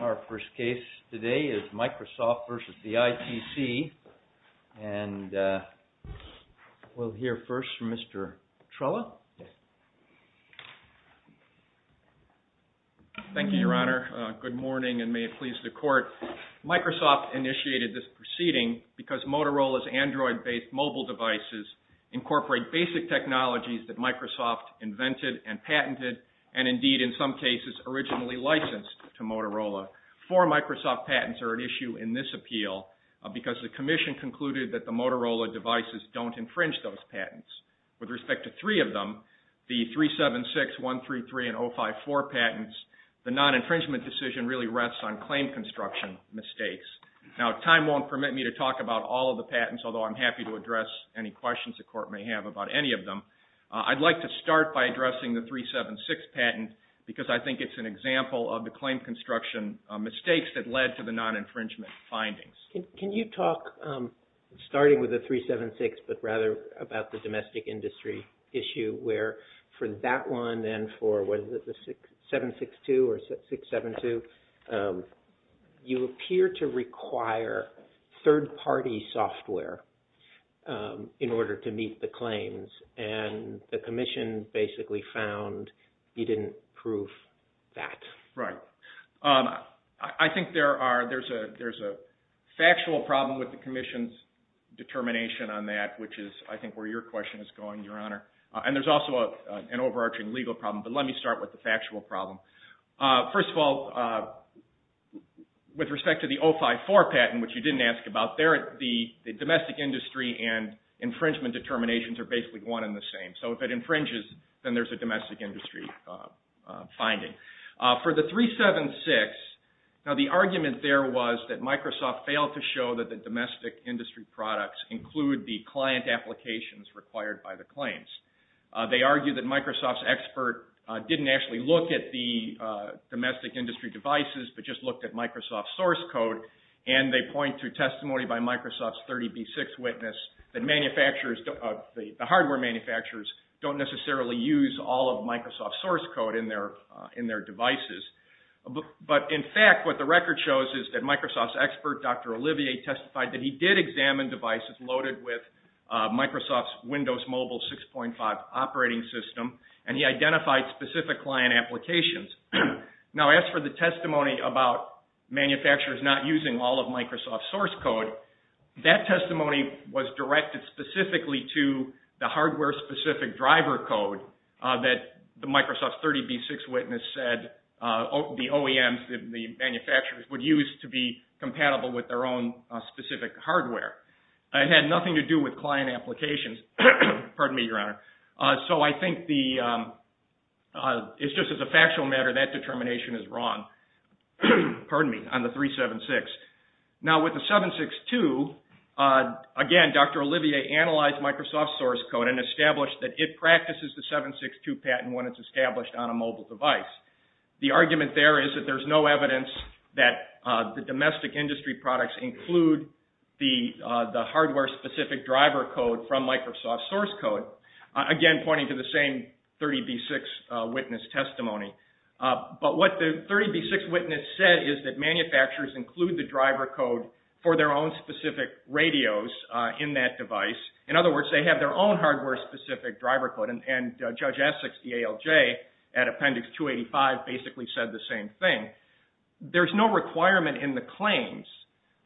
Our first case today is MICROSOFT v. ITC. And we'll hear first from Mr. Trella. Thank you, Your Honor. Good morning and may it please the Court. Microsoft initiated this proceeding because Motorola's Android-based mobile devices incorporate basic technologies that Microsoft invented and patented and indeed, in some cases, originally licensed to Motorola. Four Microsoft patents are at issue in this appeal because the Commission concluded that the Motorola devices don't infringe those patents. With respect to three of them, the 376, 133, and 054 patents, the non-infringement decision really rests on claim construction mistakes. Now time won't permit me to talk about all of the patents, although I'm happy to address any questions the Court may have about any of them. I'd like to start by addressing the 376 patent because I think it's an example of the claim construction mistakes that led to the non-infringement findings. Can you talk, starting with the 376, but rather about the domestic industry issue where for that one and for the 762 or 672, you appear to require third-party software in order to meet the claims and the Commission basically found you didn't prove that. Right. I think there's a factual problem with the Commission's determination on that, which is, I think, where your question is going, Your Honor. And there's also an overarching legal problem, but let me start with the factual problem. First of all, with respect to the 054 patent, which you didn't ask about, the domestic industry and infringement determinations are basically one and the same. So if it infringes, then there's a domestic industry finding. For the 376, now the argument there was that Microsoft failed to show that the domestic industry products include the client applications required by the claims. They argued that Microsoft's expert didn't actually look at the domestic industry devices but just looked at Microsoft's source code and they point to testimony by Microsoft's 30B6 witness that the hardware manufacturers don't necessarily use all of Microsoft's source code in their devices. But in fact, what the record shows is that Microsoft's expert, Dr. Olivier, testified that he did examine devices loaded with Microsoft's Windows Mobile 6.5 operating system and he identified specific client applications. Now, as for the testimony about manufacturers not using all of Microsoft's source code, that testimony was directed specifically to the hardware-specific driver code that the Microsoft's 30B6 witness said the OEMs, the manufacturers, would use to be compatible with their own specific hardware. It had nothing to do with client applications. Pardon me, Your Honor. So I think it's just as a factual matter that determination is wrong on the 376. Now with the 762, again, Dr. Olivier analyzed Microsoft's source code and established that it practices the 762 patent when it's established on a mobile device. The argument there is that there's no evidence that the domestic industry products include the hardware-specific driver code from Microsoft's source code. Again, pointing to the same 30B6 witness testimony. But what the 30B6 witness said is that manufacturers include the driver code for their own specific radios in that device. In other words, they have their own hardware-specific driver code and Judge Essex, the ALJ, at Appendix 285 basically said the same thing. There's no requirement in the claims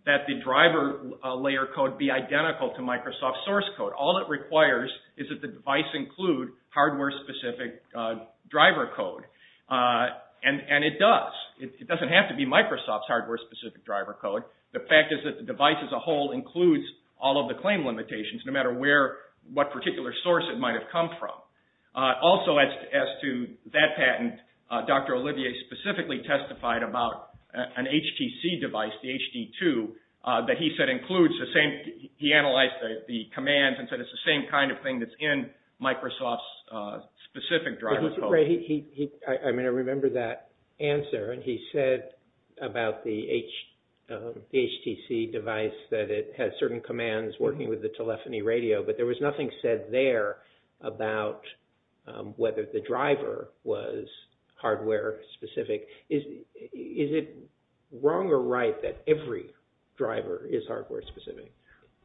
that the driver layer code be identical to Microsoft's source code. All it requires is that the device include hardware-specific driver code, and it does. It doesn't have to be Microsoft's hardware-specific driver code. The fact is that the device as a whole includes all of the claim limitations no matter what particular source it might have come from. Also as to that patent, Dr. Olivier specifically testified about an HTC device, the HD2, that he said includes the same, he analyzed the commands and said it's the same kind of thing that's in Microsoft's specific driver code. I mean, I remember that answer, and he said about the HTC device that it has certain commands working with the telephony radio, but there was nothing said there about whether the driver was hardware-specific. Is it wrong or right that every driver is hardware-specific?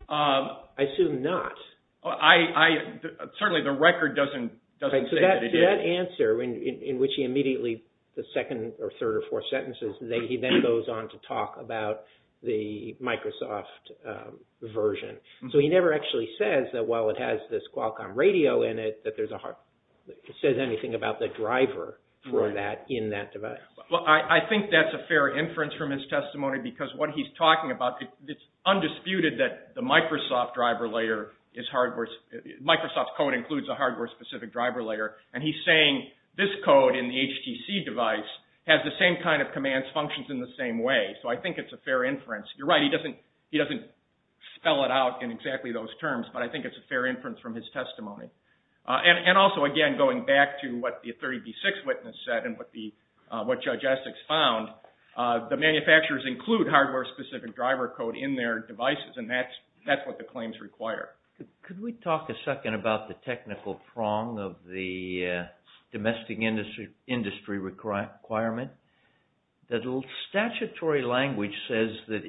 I assume not. Certainly the record doesn't say that it is. So that answer in which he immediately, the second or third or fourth sentences, he then goes on to talk about the Microsoft version. So he never actually says that while it has this Qualcomm radio in it, he says anything about the driver for that in that device. Well, I think that's a fair inference from his testimony because what he's talking about, it's undisputed that the Microsoft code includes a hardware-specific driver layer, and he's saying this code in the HTC device has the same kind of commands, functions in the same way. So I think it's a fair inference. You're right, he doesn't spell it out in exactly those terms, but I think it's a fair inference from his testimony. And also, again, going back to what the 30B6 witness said and what Judge Essex found, the manufacturers include hardware-specific driver code in their devices, and that's what the claims require. Could we talk a second about the technical prong of the domestic industry requirement? The statutory language says that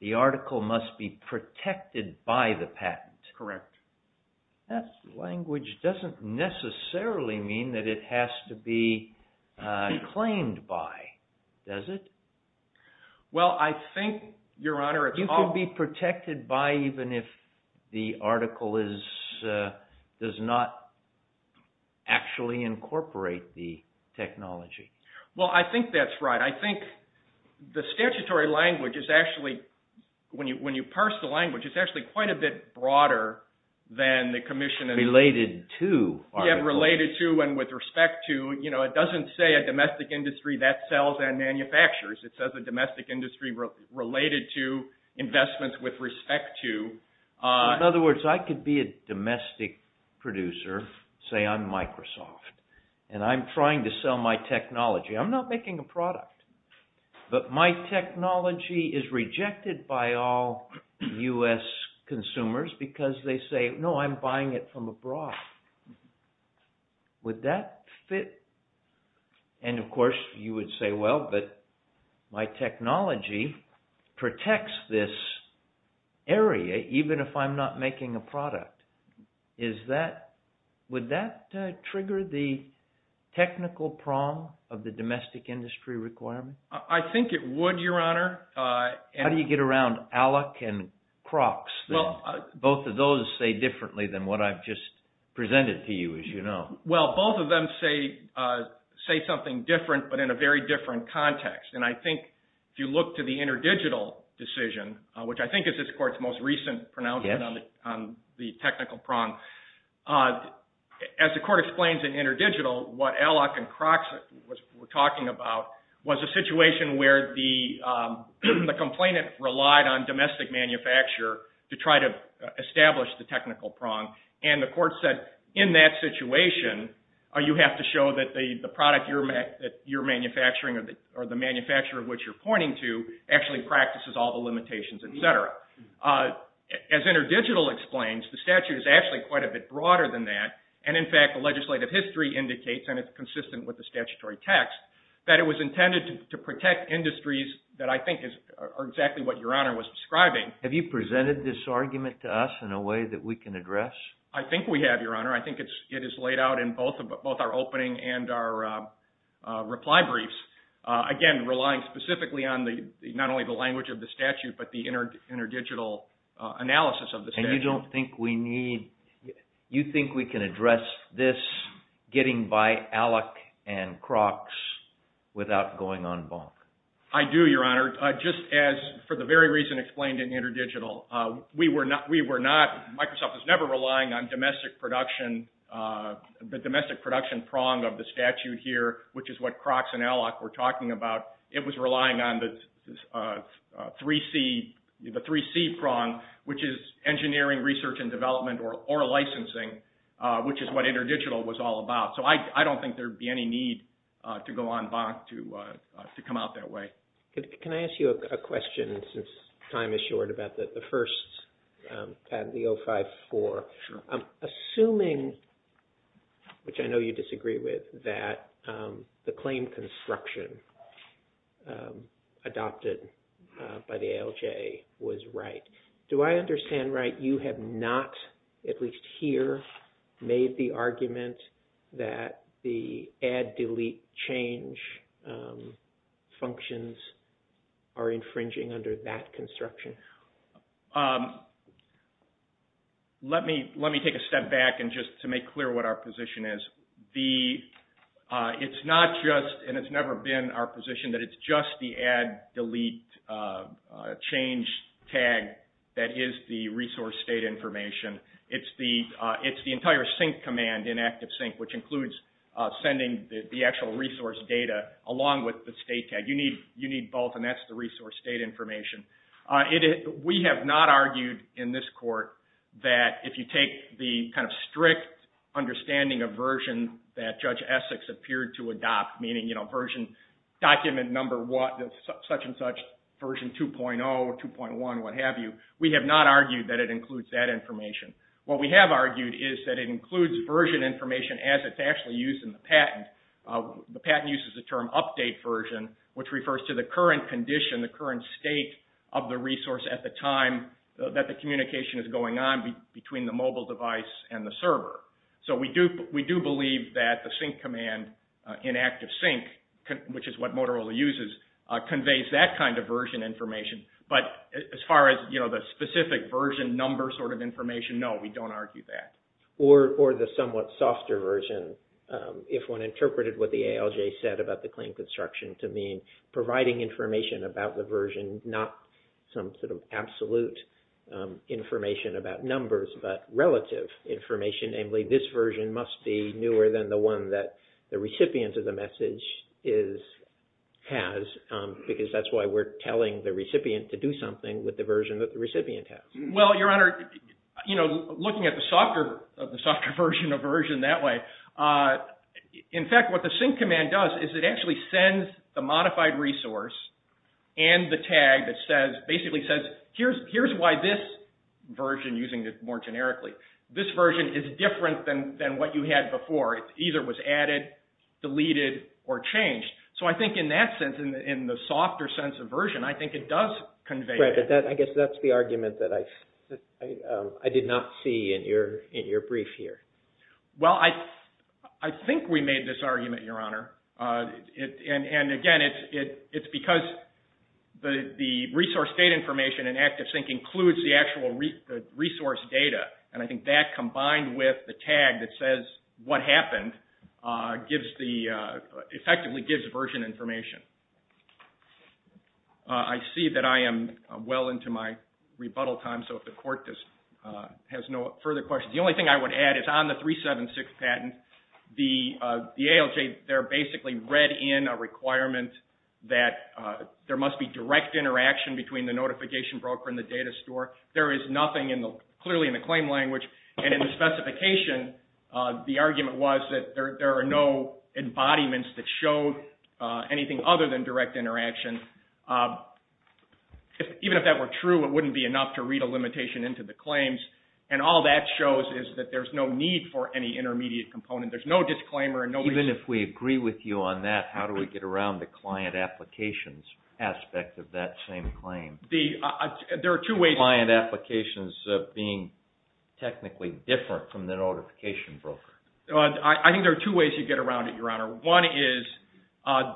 the article must be protected by the patent. Correct. That language doesn't necessarily mean that it has to be claimed by, does it? Well, I think, Your Honor, it's all... You can be protected by even if the article does not actually incorporate the technology. Well, I think that's right. I think the statutory language is actually, when you parse the language, it's actually quite a bit broader than the commission... Related to. Yeah, related to and with respect to. You know, it doesn't say a domestic industry that sells and manufactures. It says a domestic industry related to investments with respect to. In other words, I could be a domestic producer, say I'm Microsoft, and I'm trying to sell my technology. I'm not making a product, but my technology is rejected by all U.S. consumers because they say, no, I'm buying it from abroad. Would that fit? And, of course, you would say, well, but my technology protects this area even if I'm not making a product. Would that trigger the technical prong of the domestic industry requirement? I think it would, Your Honor. How do you get around ALEC and Crocs? Both of those say differently than what I've just presented to you, as you know. Well, both of them say something different, but in a very different context. And I think if you look to the interdigital decision, which I think is this court's most recent pronouncement on the technical prong, as the court explains in interdigital, what ALEC and Crocs were talking about was a situation where the complainant relied on domestic manufacturer to try to establish the technical prong. And the court said, in that situation, you have to show that the product that you're manufacturing or the manufacturer which you're pointing to actually practices all the limitations, et cetera. As interdigital explains, the statute is actually quite a bit broader than that. And, in fact, the legislative history indicates, and it's consistent with the statutory text, that it was intended to protect industries that I think are exactly what Your Honor was describing. Have you presented this argument to us in a way that we can address? I think we have, Your Honor. I think it is laid out in both our opening and our reply briefs. Again, relying specifically on not only the language of the statute, but the interdigital analysis of the statute. And you don't think we need – you think we can address this, getting by ALEC and Crocs without going en banc? I do, Your Honor. Just as, for the very reason explained in interdigital, we were not – Microsoft was never relying on domestic production, the domestic production prong of the statute here, which is what Crocs and ALEC were talking about. It was relying on the 3C prong, which is engineering, research, and development, or licensing, which is what interdigital was all about. So I don't think there would be any need to go en banc to come out that way. Can I ask you a question, since time is short, about the first patent, the 054? Sure. Assuming, which I know you disagree with, that the claim construction adopted by the ALJ was right, do I understand right you have not, at least here, made the argument that the add, delete, change functions are infringing under that construction? Let me take a step back just to make clear what our position is. It's not just, and it's never been our position, that it's just the add, delete, change tag that is the resource data information. It's the entire sync command in ActiveSync, which includes sending the actual resource data along with the state tag. You need both, and that's the resource data information. We have not argued in this court that, if you take the kind of strict understanding of version that Judge Essex appeared to adopt, meaning document number such and such, version 2.0, 2.1, what have you, we have not argued that it includes that information. What we have argued is that it includes version information as it's actually used in the patent. The patent uses the term update version, which refers to the current condition, the current state of the resource at the time that the communication is going on between the mobile device and the server. So we do believe that the sync command in ActiveSync, which is what Motorola uses, conveys that kind of version information. But as far as the specific version number sort of information, no, we don't argue that. Or the somewhat softer version, if one interpreted what the ALJ said about the claim construction to mean providing information about the version, not some sort of absolute information about numbers, but relative information, namely this version must be newer than the one that the recipient of the message has, because that's why we're telling the recipient to do something with the version that the recipient has. Well, Your Honor, looking at the softer version that way, in fact, what the sync command does is it actually sends the modified resource and the tag that basically says, here's why this version, using it more generically, this version is different than what you had before. It either was added, deleted, or changed. So I think in that sense, in the softer sense of version, I think it does convey that. I guess that's the argument that I did not see in your brief here. Well, I think we made this argument, Your Honor, and again, it's because the resource data information in ActiveSync includes the actual resource data, and I think that combined with the tag that says what happened effectively gives version information. I see that I am well into my rebuttal time, so if the Court has no further questions, the only thing I would add is on the 376 patent, the ALJ, they're basically read in a requirement that there must be direct interaction between the notification broker and the data store. There is nothing clearly in the claim language, and in the specification, the argument was that there are no embodiments that showed anything other than direct interaction. Even if that were true, it wouldn't be enough to read a limitation into the claims, and all that shows is that there's no need for any intermediate component. There's no disclaimer and no reason. Even if we agree with you on that, how do we get around the client applications aspect of that same claim? There are two ways. Client applications being technically different from the notification broker. I think there are two ways you get around it, Your Honor. One is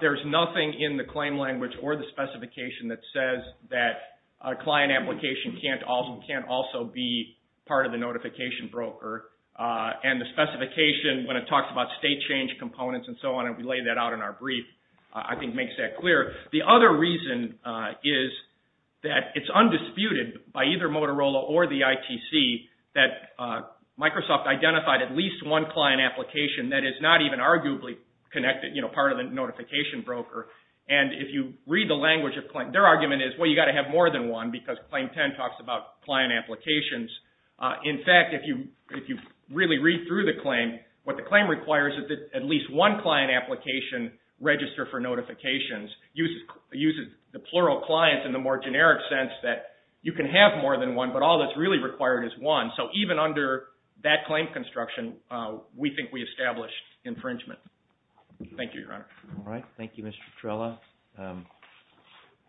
there's nothing in the claim language or the specification that says that a client application can't also be part of the notification broker, and the specification, when it talks about state change components and so on, and we lay that out in our brief, I think makes that clear. The other reason is that it's undisputed by either Motorola or the ITC that Microsoft identified at least one client application that is not even arguably connected, part of the notification broker, and if you read the language of claim, their argument is, well, you've got to have more than one because Claim 10 talks about client applications. In fact, if you really read through the claim, what the claim requires is that at least one client application register for notifications. It uses the plural clients in the more generic sense that you can have more than one, but all that's really required is one. So even under that claim construction, we think we established infringement. Thank you, Your Honor. All right, thank you, Mr. Trella.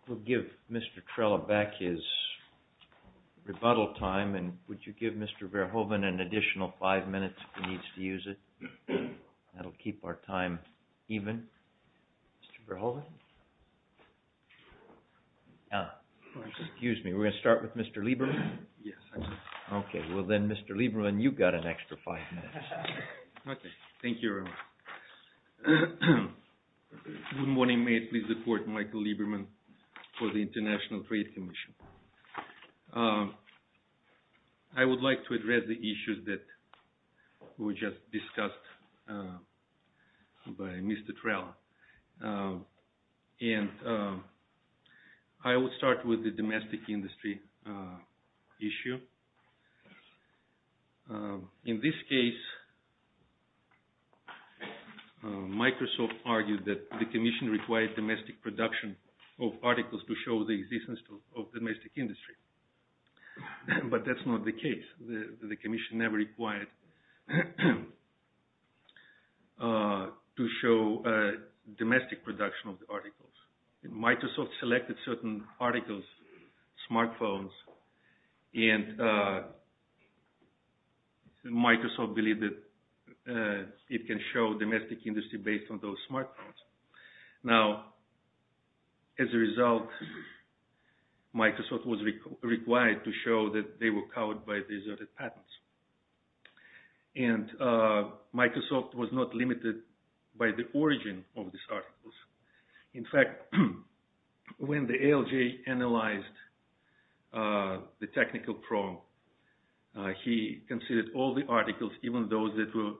We'll give Mr. Trella back his rebuttal time, and would you give Mr. Verhoeven an additional five minutes if he needs to use it? That'll keep our time even. Mr. Verhoeven? Excuse me, we're going to start with Mr. Lieberman? Yes, I can. Okay, well then, Mr. Lieberman, you've got an extra five minutes. Okay, thank you, Your Honor. Good morning. May it please the Court, Michael Lieberman for the International Trade Commission. I would like to address the issues that were just discussed by Mr. Trella. And I will start with the domestic industry issue. In this case, Microsoft argued that the commission required domestic production of articles to show the existence of domestic industry. But that's not the case. The commission never required to show domestic production of the articles. Microsoft selected certain articles, such as smartphones, and Microsoft believed that it can show domestic industry based on those smartphones. Now, as a result, Microsoft was required to show that they were covered by these other patents. And Microsoft was not limited by the origin of these articles. In fact, when the ALJ analyzed the technical problem, he considered all the articles, even those that were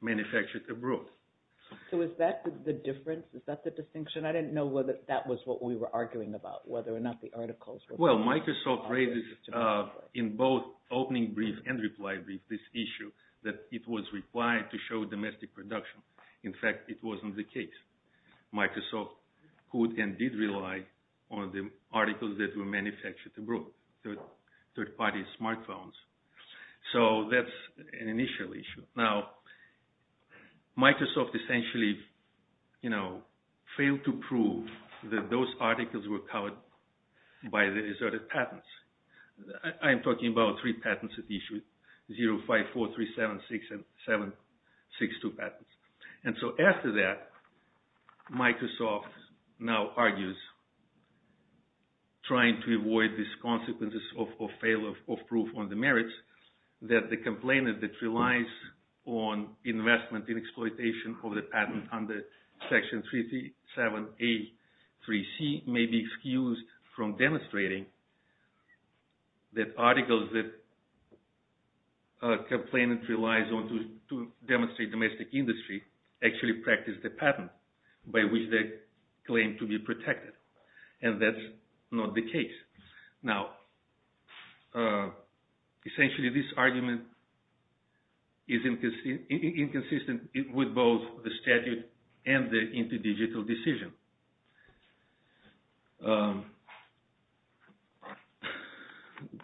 manufactured abroad. So is that the difference? Is that the distinction? I didn't know whether that was what we were arguing about, whether or not the articles were... Well, Microsoft raised in both opening brief and reply brief this issue that it was required to show domestic production. In fact, it wasn't the case. Microsoft could and did rely on the articles that were manufactured abroad, third-party smartphones. So that's an initial issue. Now, Microsoft essentially, you know, failed to prove that those articles were covered by these other patents. I'm talking about three patents it issued, 0, 5, 4, 3, 7, 6, and 7, 6, 2 patents. And so after that, Microsoft now argues trying to avoid these consequences of failure of proof on the merits, that the complainant that relies on investment in exploitation of the patent under Section 37A, 3C may be excused from demonstrating that articles that a complainant relies on to demonstrate domestic industry actually practice the patent by which they claim to be protected. And that's not the case. Now, essentially this argument is inconsistent with both the statute and the interdigital decision.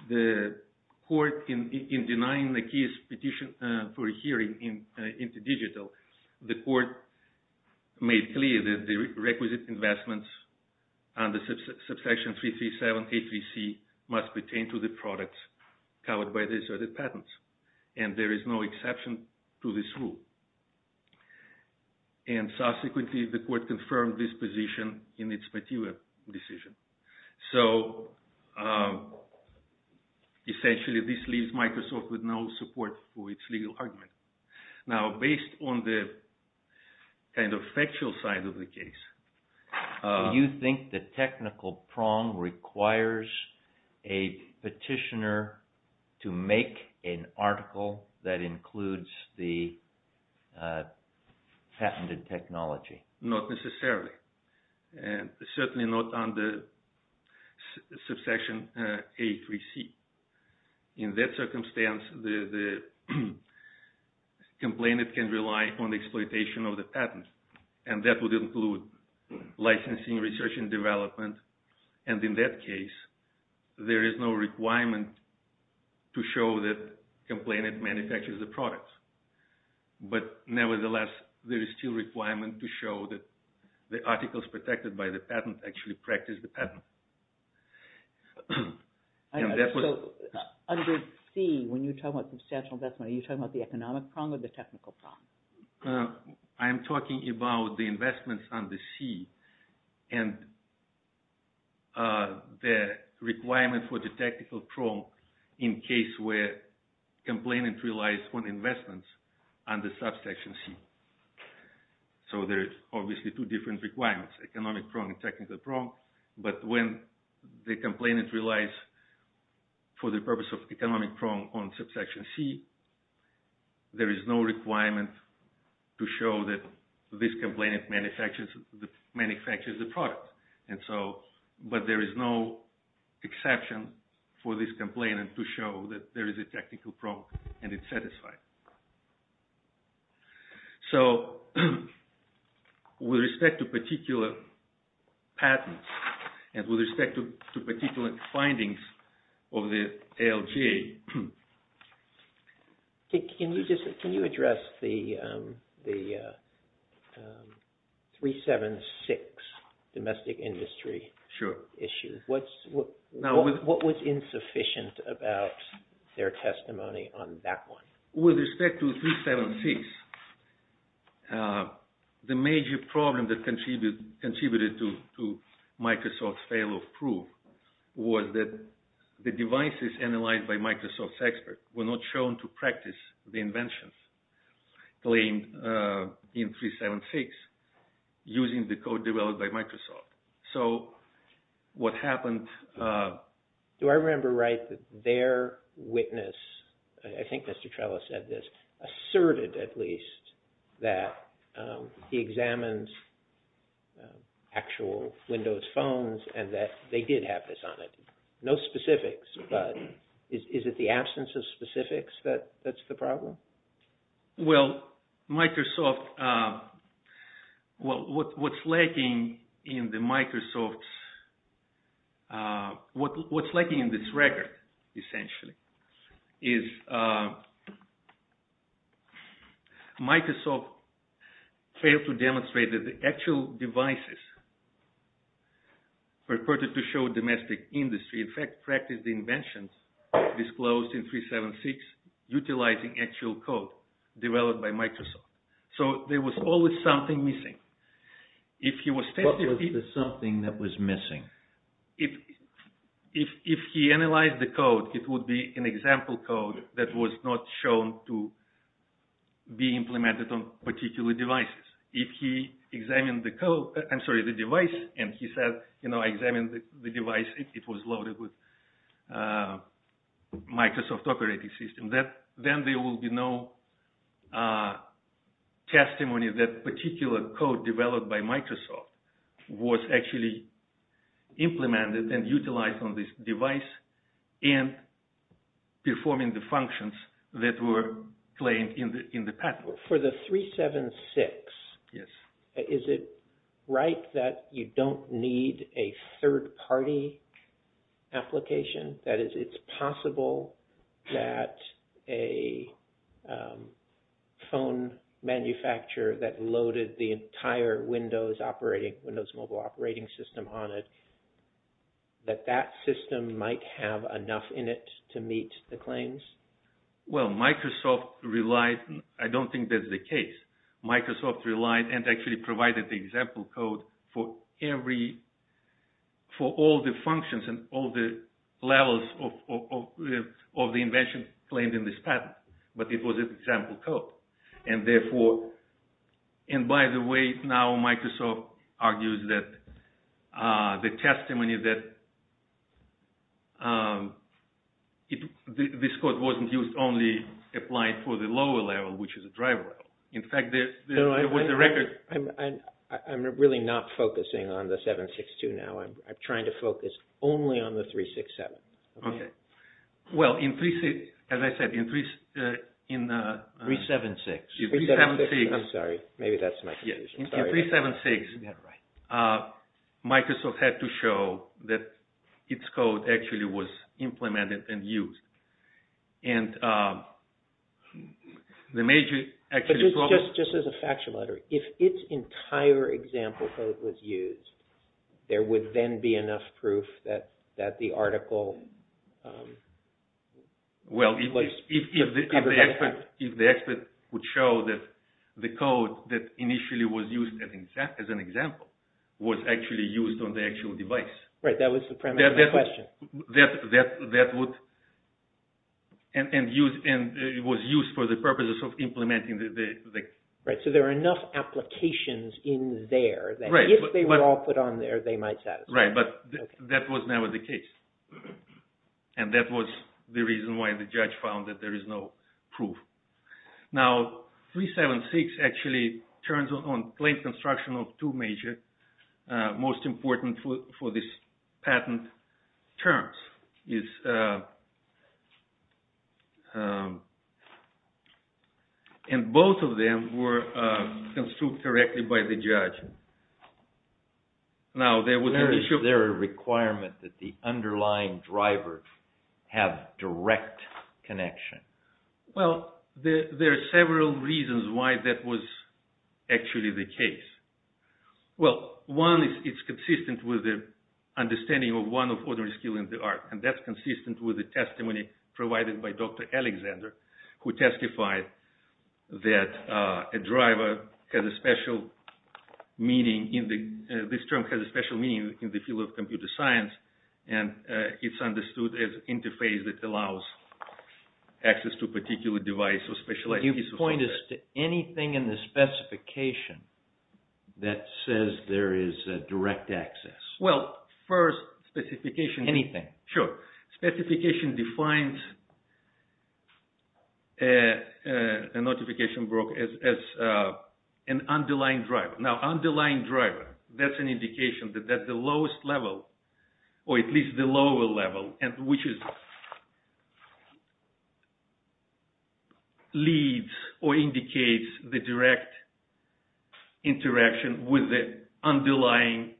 The court, in denying the case petition for a hearing interdigital, the court made clear that the requisite investments under Subsection 337A, 3C must pertain to the products covered by these other patents. And there is no exception to this rule. And subsequently, the court confirmed this position in its particular decision. So, essentially this leaves Microsoft with no support for its legal argument. Now, based on the kind of factual side of the case... Do you think the technical prong requires a petitioner to make an article that includes the patented technology? Not necessarily. Certainly not under Subsection A, 3C. In that circumstance, the complainant can rely on the exploitation of the patent. And that would include licensing, research and development. And in that case, there is no requirement to show that the complainant manufactures the products. But nevertheless, there is still a requirement to show that the articles protected by the patent actually practice the patent. So, under C, when you talk about substantial investment, are you talking about the economic prong or the technical prong? I am talking about the investments under C and the requirement for the technical prong in case where the complainant relies on investments under Subsection C. So there are obviously two different requirements, economic prong and technical prong. But when the complainant relies for the purpose of economic prong on Subsection C, there is no requirement to show that this complainant manufactures the product. But there is no exception for this complainant to show that there is a technical prong and it is satisfied. So, with respect to particular patents and with respect to particular findings of the ALJ... Can you address the 376 domestic industry issue? Sure. What was insufficient about their testimony on that one? With respect to 376, the major problem that contributed to Microsoft's fail of proof was that the devices analyzed by Microsoft's expert were not shown to practice the inventions claimed in 376 using the code developed by Microsoft. So, what happened... Do I remember right that their witness, I think Mr. Trella said this, asserted at least that he examines actual Windows phones and that they did have this on it. No specifics, but is it the absence of specifics that's the problem? Well, Microsoft... Well, what's lacking in the Microsoft's... What's lacking in this record, essentially, is Microsoft failed to demonstrate that the actual devices purported to show domestic industry in fact practiced the inventions disclosed in 376 utilizing actual code developed by Microsoft. So, there was always something missing. What was the something that was missing? If he analyzed the code, it would be an example code that was not shown to be implemented on particular devices. If he examined the device and he said, you know, I examined the device, it was loaded with Microsoft operating system, then there will be no testimony that particular code developed by Microsoft was actually implemented and utilized on this device and performing the functions that were claimed in the patent. For the 376, yes. Is it right that you don't need a third-party application? That is, it's possible that a phone manufacturer that loaded the entire Windows operating... Windows mobile operating system on it, that that system might have enough in it to meet the claims? Well, Microsoft relied... I don't think that's the case. Microsoft relied and actually provided the example code for every... for all the functions and all the levels of the invention claimed in this patent. But it was an example code. And therefore... And by the way, now Microsoft argues that the testimony that... this code wasn't used only applied for the lower level, which is the driver level. In fact, there was a record... I'm really not focusing on the 762 now. I'm trying to focus only on the 367. Okay. Well, in... as I said, in... 376. I'm sorry. Maybe that's my confusion. In 376, Microsoft had to show that its code actually was implemented and used. And the major... Just as a factual matter, if its entire example code was used, there would then be enough proof that the article... Well, if the expert would show that the code that initially was used as an example was actually used on the actual device. Right, that was the premise of the question. That would... And it was used for the purposes of implementing the... Right, so there are enough applications in there that if they were all put on there, they might satisfy. Right, but that was never the case. And that was the reason why the judge found that there is no proof. Now, 376 actually turns on plain construction of two major, most important for this patent terms. It's... And both of them were construed correctly by the judge. Now, there was an issue... Is there a requirement that the underlying driver have direct connection? Well, there are several reasons why that was actually the case. Well, one is it's consistent with the understanding of one of ordinary skill in the art. And that's consistent with the testimony provided by Dr. Alexander, who testified that a driver has a special meaning in the... This term has a special meaning in the field of computer science. And it's understood as interface that allows access to a particular device or specialized piece of hardware. Can you point us to anything in the specification that says there is a direct access? Well, first specification... Anything. Sure. Specification defines a notification broker as an underlying driver. Now, underlying driver, that's an indication that the lowest level, or at least the lower level, which leads or indicates the direct interaction with the underlying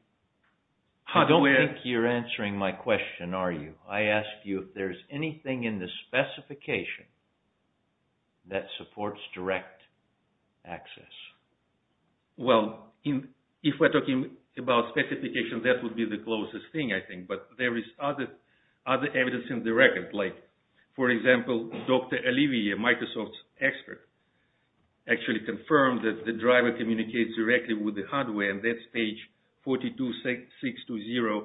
hardware. I don't think you're answering my question, are you? I ask you if there's anything in the specification that supports direct access. Well, if we're talking about specification, that would be the closest thing, I think. But there is other evidence in the record. Like, for example, Dr. Olivier, Microsoft expert, actually confirmed that the driver communicates directly with the hardware. And that's page 42620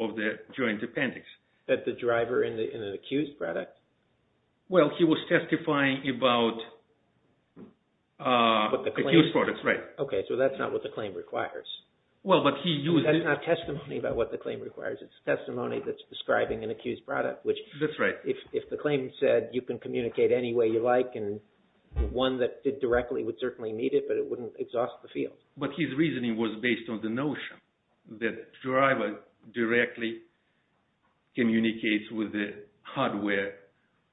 of the Joint Appendix. That the driver in an accused product... Well, he was testifying about... What the claim... Accused products, right. Okay, so that's not what the claim requires. Well, but he used... That's not testimony about what the claim requires. It's testimony that's describing an accused product, which if the claim said, you can communicate any way you like, and one that did directly would certainly meet it, but it wouldn't exhaust the field. But his reasoning was based on the notion that the driver directly communicates with the hardware.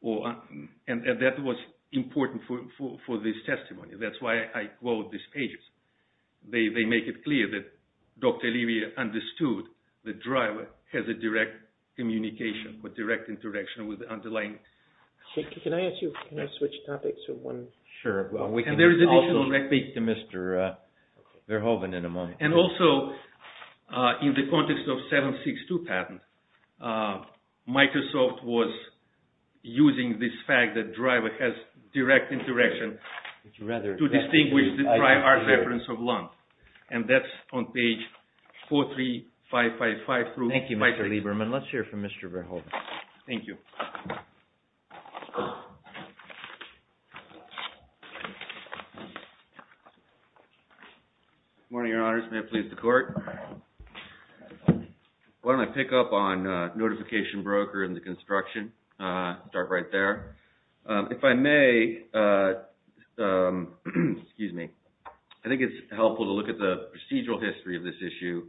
And that was important for this testimony. That's why I quote these pages. They make it clear that Dr. Olivier understood the driver has a direct communication or direct interaction with the underlying... Can I ask you... Can I switch topics from one... Sure. Well, we can also speak to Mr. Verhoeven in a moment. And also, in the context of 762 patent, Microsoft was using this fact that driver has direct interaction to distinguish the prior reference of LUN. And that's on page 43555 through... Thank you, Mr. Lieberman. Let's hear from Mr. Verhoeven. Thank you. Good morning, Your Honors. May it please the Court? Why don't I pick up on notification broker in the construction? Start right there. If I may... Excuse me. I think it's helpful to look at the procedural history of this issue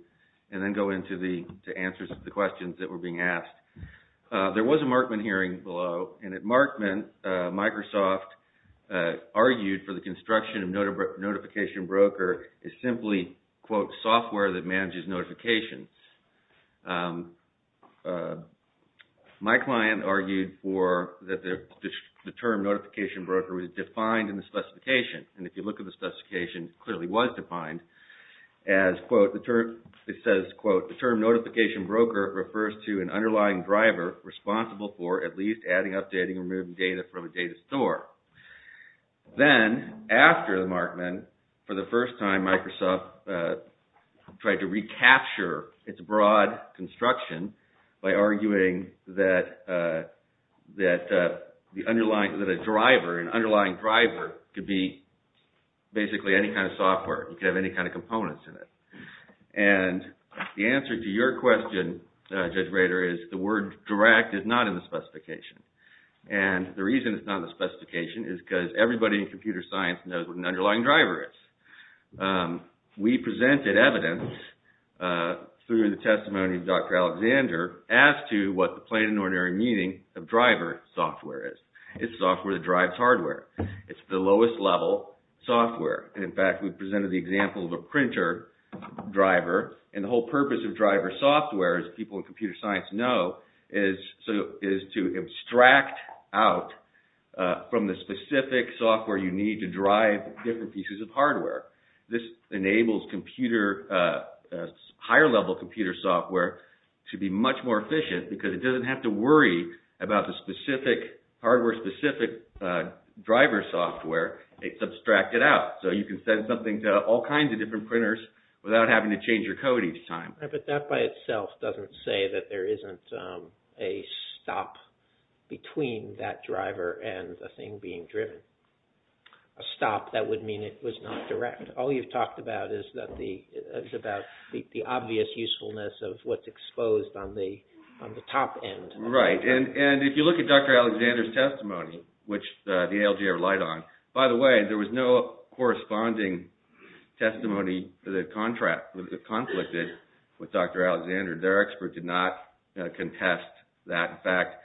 and then go into the answers to the questions that were being asked. There was a Markman hearing below, and at Markman, Microsoft argued for the construction of notification broker is simply, quote, software that manages notifications. My client argued for... that the term notification broker was defined in the specification. And if you look at the specification, it clearly was defined as, quote, the term... It says, quote, the term notification broker refers to an underlying driver responsible for, at least, adding, updating, and removing data from a data store. Then, after the Markman, for the first time, Microsoft tried to recapture its broad construction by arguing that... that the underlying... that a driver, an underlying driver could be basically any kind of software. It could have any kind of components in it. And the answer to your question, Judge Rader, is the word direct is not in the specification. And the reason it's not in the specification is because everybody in computer science knows what an underlying driver is. We presented evidence through the testimony of Dr. Alexander as to what the plain and ordinary meaning of driver software is. It's software that drives hardware. It's the lowest level software. In fact, we presented the example of a printer driver, and the whole purpose of driver software as people in computer science know is to abstract out from the specific software you need to drive different pieces of hardware. This enables computer... higher-level computer software to be much more efficient because it doesn't have to worry about the specific... hardware-specific driver software. It's abstracted out. So you can send something to all kinds of different printers without having to change your code each time. Right, but that by itself doesn't say that there isn't a stop between that driver and the thing being driven. A stop, that would mean it was not direct. All you've talked about is about the obvious usefulness of what's exposed on the top end. Right. And if you look at Dr. Alexander's testimony, which the ALG relied on... By the way, there was no corresponding testimony that conflicted with Dr. Alexander. Their expert did not contest that fact.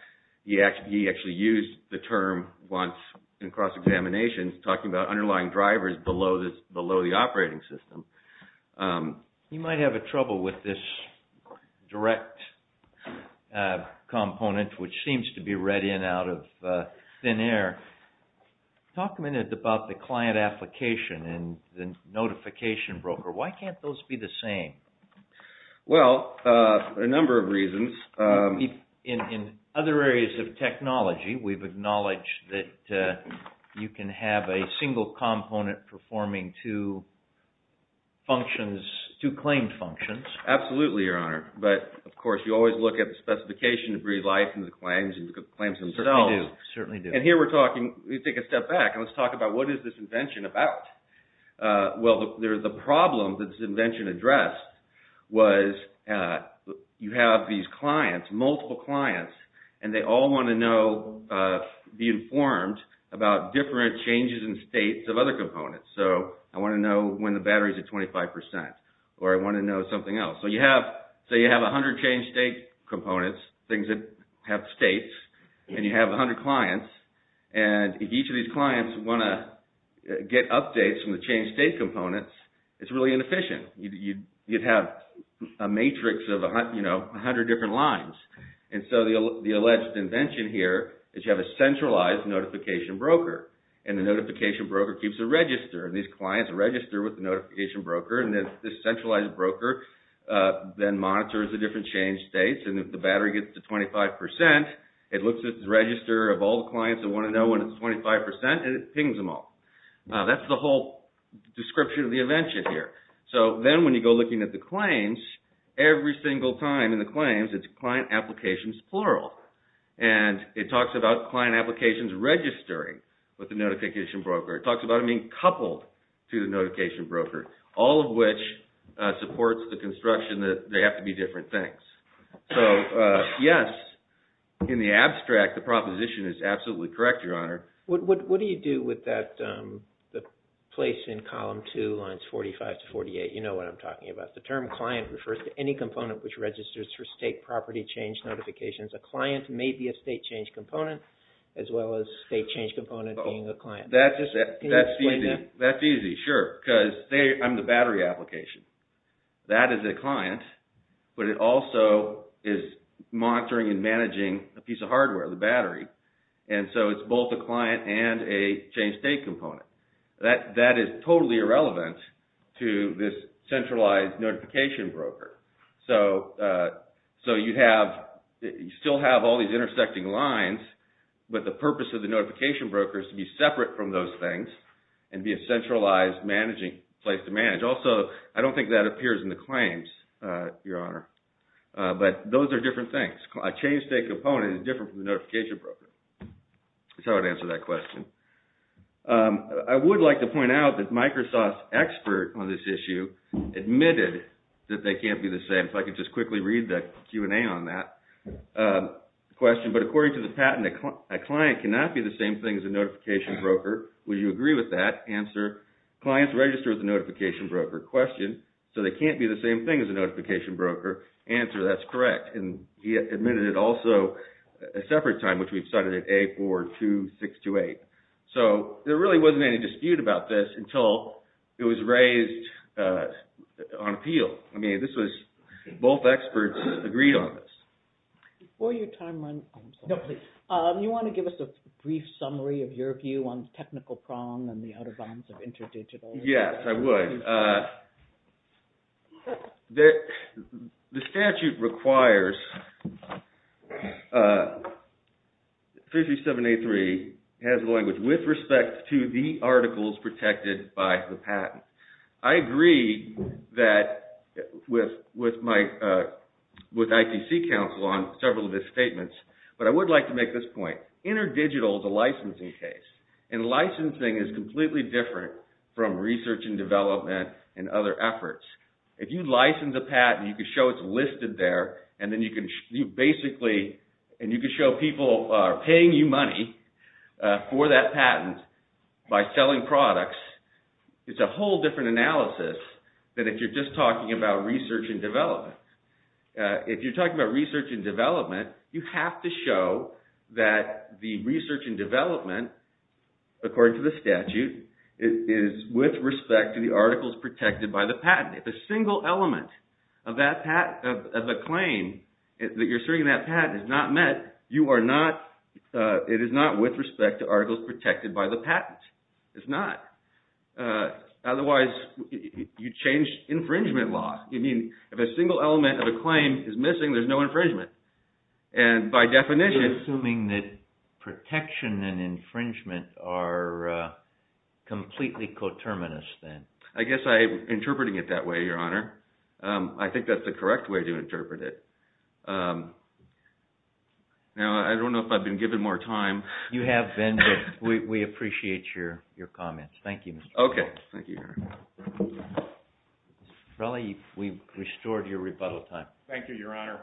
He actually used the term once in cross-examination talking about underlying drivers below the operating system. You might have a trouble with this direct component which seems to be read in out of thin air. Talk a minute about the client application and the notification broker. Why can't those be the same? Well, a number of reasons. In other areas of technology, we've acknowledged that you can have a single component performing two claimed functions. Absolutely, Your Honor. But, of course, you always look at the specification to breathe life into the claims and the claims themselves. Certainly do. And here we're talking, we take a step back and let's talk about what is this invention about? Well, the problem that this invention addressed was you have these clients, multiple clients, and they all want to know, be informed about different changes in states of other components. So, I want to know when the battery's at 25% or I want to know something else. So, you have 100 changed state components, things that have states, and you have 100 clients. And if each of these clients want to get updates from the changed state components, it's really inefficient. You'd have a matrix of 100 different lines. And so, the alleged invention here is you have a centralized notification broker, and the notification broker keeps a register. And these clients register with the notification broker and this centralized broker then monitors the different changed states and if the battery gets to 25%, it looks at the register of all the clients that want to know when it's 25% and it pings them all. That's the whole description of the invention here. So, then when you go looking at the claims, every single time in the claims it's client applications plural. And it talks about client applications registering with the notification broker. It talks about it being coupled to the notification broker, all of which supports the construction that they have to be different things. So, yes, in the abstract, the proposition is absolutely correct, Your Honor. What do you do with that, the place in column 2, lines 45 to 48? You know what I'm talking about. The term client refers to any component which registers for state property change notifications. A client may be a state change component as well as state change component being a client. That's easy. That's easy, sure. Because I'm the battery application. That is a client, but it also is monitoring and managing a piece of hardware, the battery. And so it's both a client and a change state component. That is totally irrelevant to this centralized notification broker. So you have, you still have all these intersecting lines, but the purpose of the notification broker is to be separate from those things and be a centralized managing, place to manage. Also, I don't think that appears in the claims, Your Honor. But those are different things. A change state component is different from the notification broker. That's how I would answer that question. I would like to point out that Microsoft's expert on this issue admitted that they can't be the same. If I could just quickly read the Q&A on that question. But according to the patent, a client cannot be the same thing as a notification broker. Would you agree with that? Answer, clients register as a notification broker. Question, so they can't be the same thing as a notification broker. Answer, that's correct. And he admitted it also a separate time, which we've cited at A42628. So there really wasn't any dispute about this until it was raised on appeal. I mean, this was, both experts agreed on this. Before your time runs, oh, I'm sorry. You want to give us a brief summary of your view on technical prong and the outer bounds of interdigital? Yes, I would. The statute requires 33783 has the language with respect to the articles protected by the patent. I agree that with my, with ITC counsel on several of his statements, but I would like to make this point. Interdigital is a licensing case and licensing is completely different from research and development and other efforts. If you license a patent, you can show it's listed there and then you can basically, and you can show people are paying you money for that patent by selling products. It's a whole different analysis than if you're just talking about research and development. If you're talking about research and development, you have to show that the research and development, according to the statute, is with respect to the articles protected by the patent. If a single element of a claim that you're asserting that patent is not met, you are not, it is not with respect to articles protected by the patent. It's not. Otherwise, you change infringement law. You mean if a single element of a claim is missing, there's no infringement. And by definition... You're assuming that protection and infringement are completely coterminous then. I guess I'm interpreting it that way, Your Honor. I think that's the correct way to interpret it. Now, I don't know if I've been given more time. You have been, but we appreciate your comments. Thank you, Mr. Trelawney. Okay. Thank you, Your Honor. Mr. Trelawney, we've restored your rebuttal time. Thank you, Your Honor.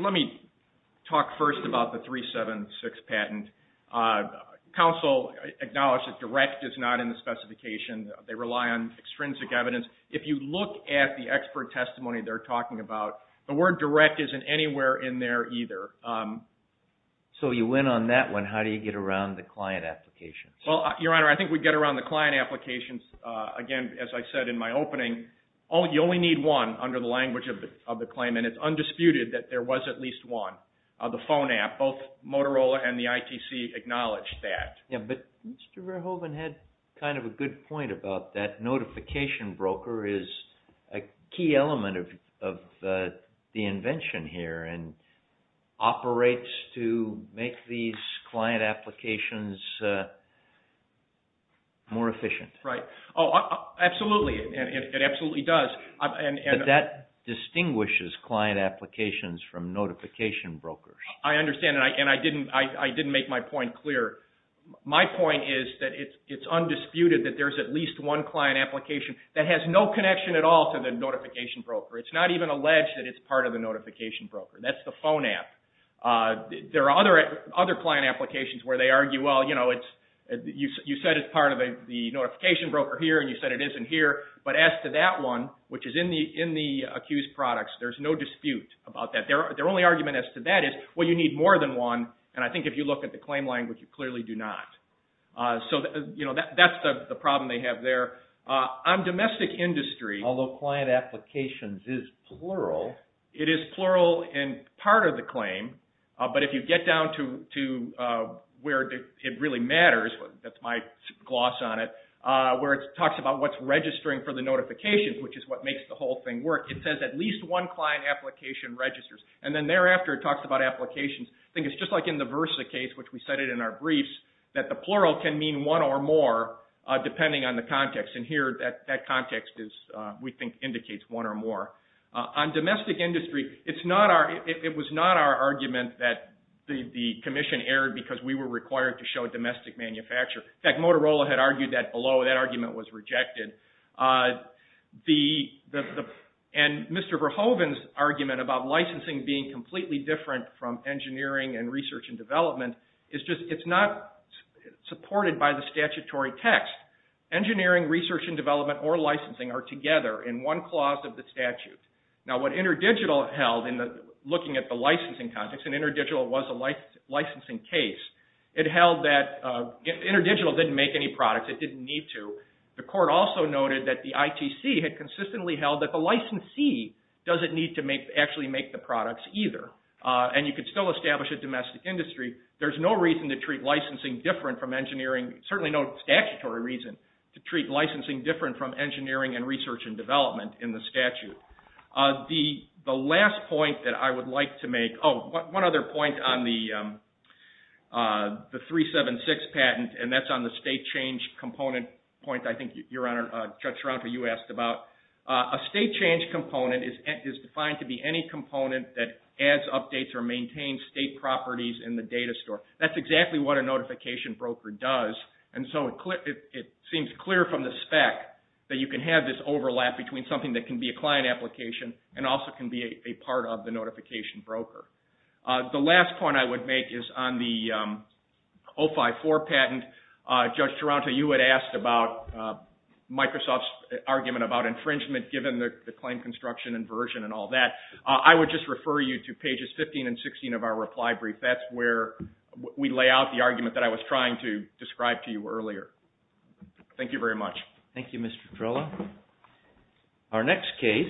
Let me talk first about the 376 patent. Counsel acknowledged that they rely on extrinsic evidence. If you look at the expert testimony they're talking about, the word direct isn't anywhere in there either. So you went on that one. How do you get around the client applications? Well, Your Honor, I think we get around the client applications. Again, as I said in my opening, you only need one under the language of the claim and it's undisputed that there was at least one. The phone app, both Motorola and the ITC acknowledged that. Yeah, but Mr. Verhoeven had kind of a good point about that notification broker is a key element of the invention here and operates to make these client applications more efficient. Right. Oh, absolutely. It absolutely does. But that distinguishes client applications from notification brokers. I understand and I didn't make my point clear. My point is that it's undisputed that there's at least one client application that has no connection at all to the notification broker. It's not even alleged that it's part of the notification broker. That's the phone app. There are other client applications where they argue, well, you said it's part of the notification broker here and you said it isn't here. But as to that one, which is in the accused products, there's no dispute about that. Their only argument as to that is, well, you need more than one and I think if you look at the claim language, you clearly do not. So, you know, that's the problem they have there. On domestic industry, although client applications is plural, it is plural in part of the claim, but if you get down to where it really matters, that's my gloss on it, where it talks about what's registering for the notifications, which is what makes the whole thing work, it says at least one client application registers and then thereafter it talks about applications. I think it's just like in the Versa case, which we cited in our briefs, that the plural can mean one or more depending on the context. And here, that context is, we think, indicates one or more. On domestic industry, it's not our, it was not our argument that the commission erred because we were required to show domestic manufacture. In fact, Motorola had argued that below. That argument was rejected. And Mr. Verhoeven's argument about licensing being completely different from engineering and research and development, is just, it's not supported by the statutory text. Engineering, research, and development or licensing are together in one clause of the statute. Now what InterDigital held in looking at the licensing context, and InterDigital was a licensing case, it held that InterDigital didn't make any products, it didn't need to. The court also noted that the ITC had consistently held that the licensee doesn't need to actually make the products either. And you could still establish a domestic industry, there's no reason to treat licensing different from engineering, certainly no statutory reason to treat licensing different from engineering and research and development in the statute. The last point that I would like to make, oh, one other point on the 376 patent, and that's on the state change component point, I think, Your Honor, Judge Schroeder, you asked about. A state change component is defined to be any component that adds, updates, or maintains state properties in the data store. That's exactly what a notification broker does, and so it seems clear from the spec that you can have this overlap between something that can be a client application and also can be a part of the notification broker. The last point I would make is on the 054 patent. Judge Taranto, you had asked about Microsoft's argument about infringement given the claim construction and version and all that. I would just refer you to pages 15 and 16 of our reply brief. That's where we lay out the argument that I was trying to describe to you earlier. Thank you very much. Thank you, Mr. Petrola. Our next case...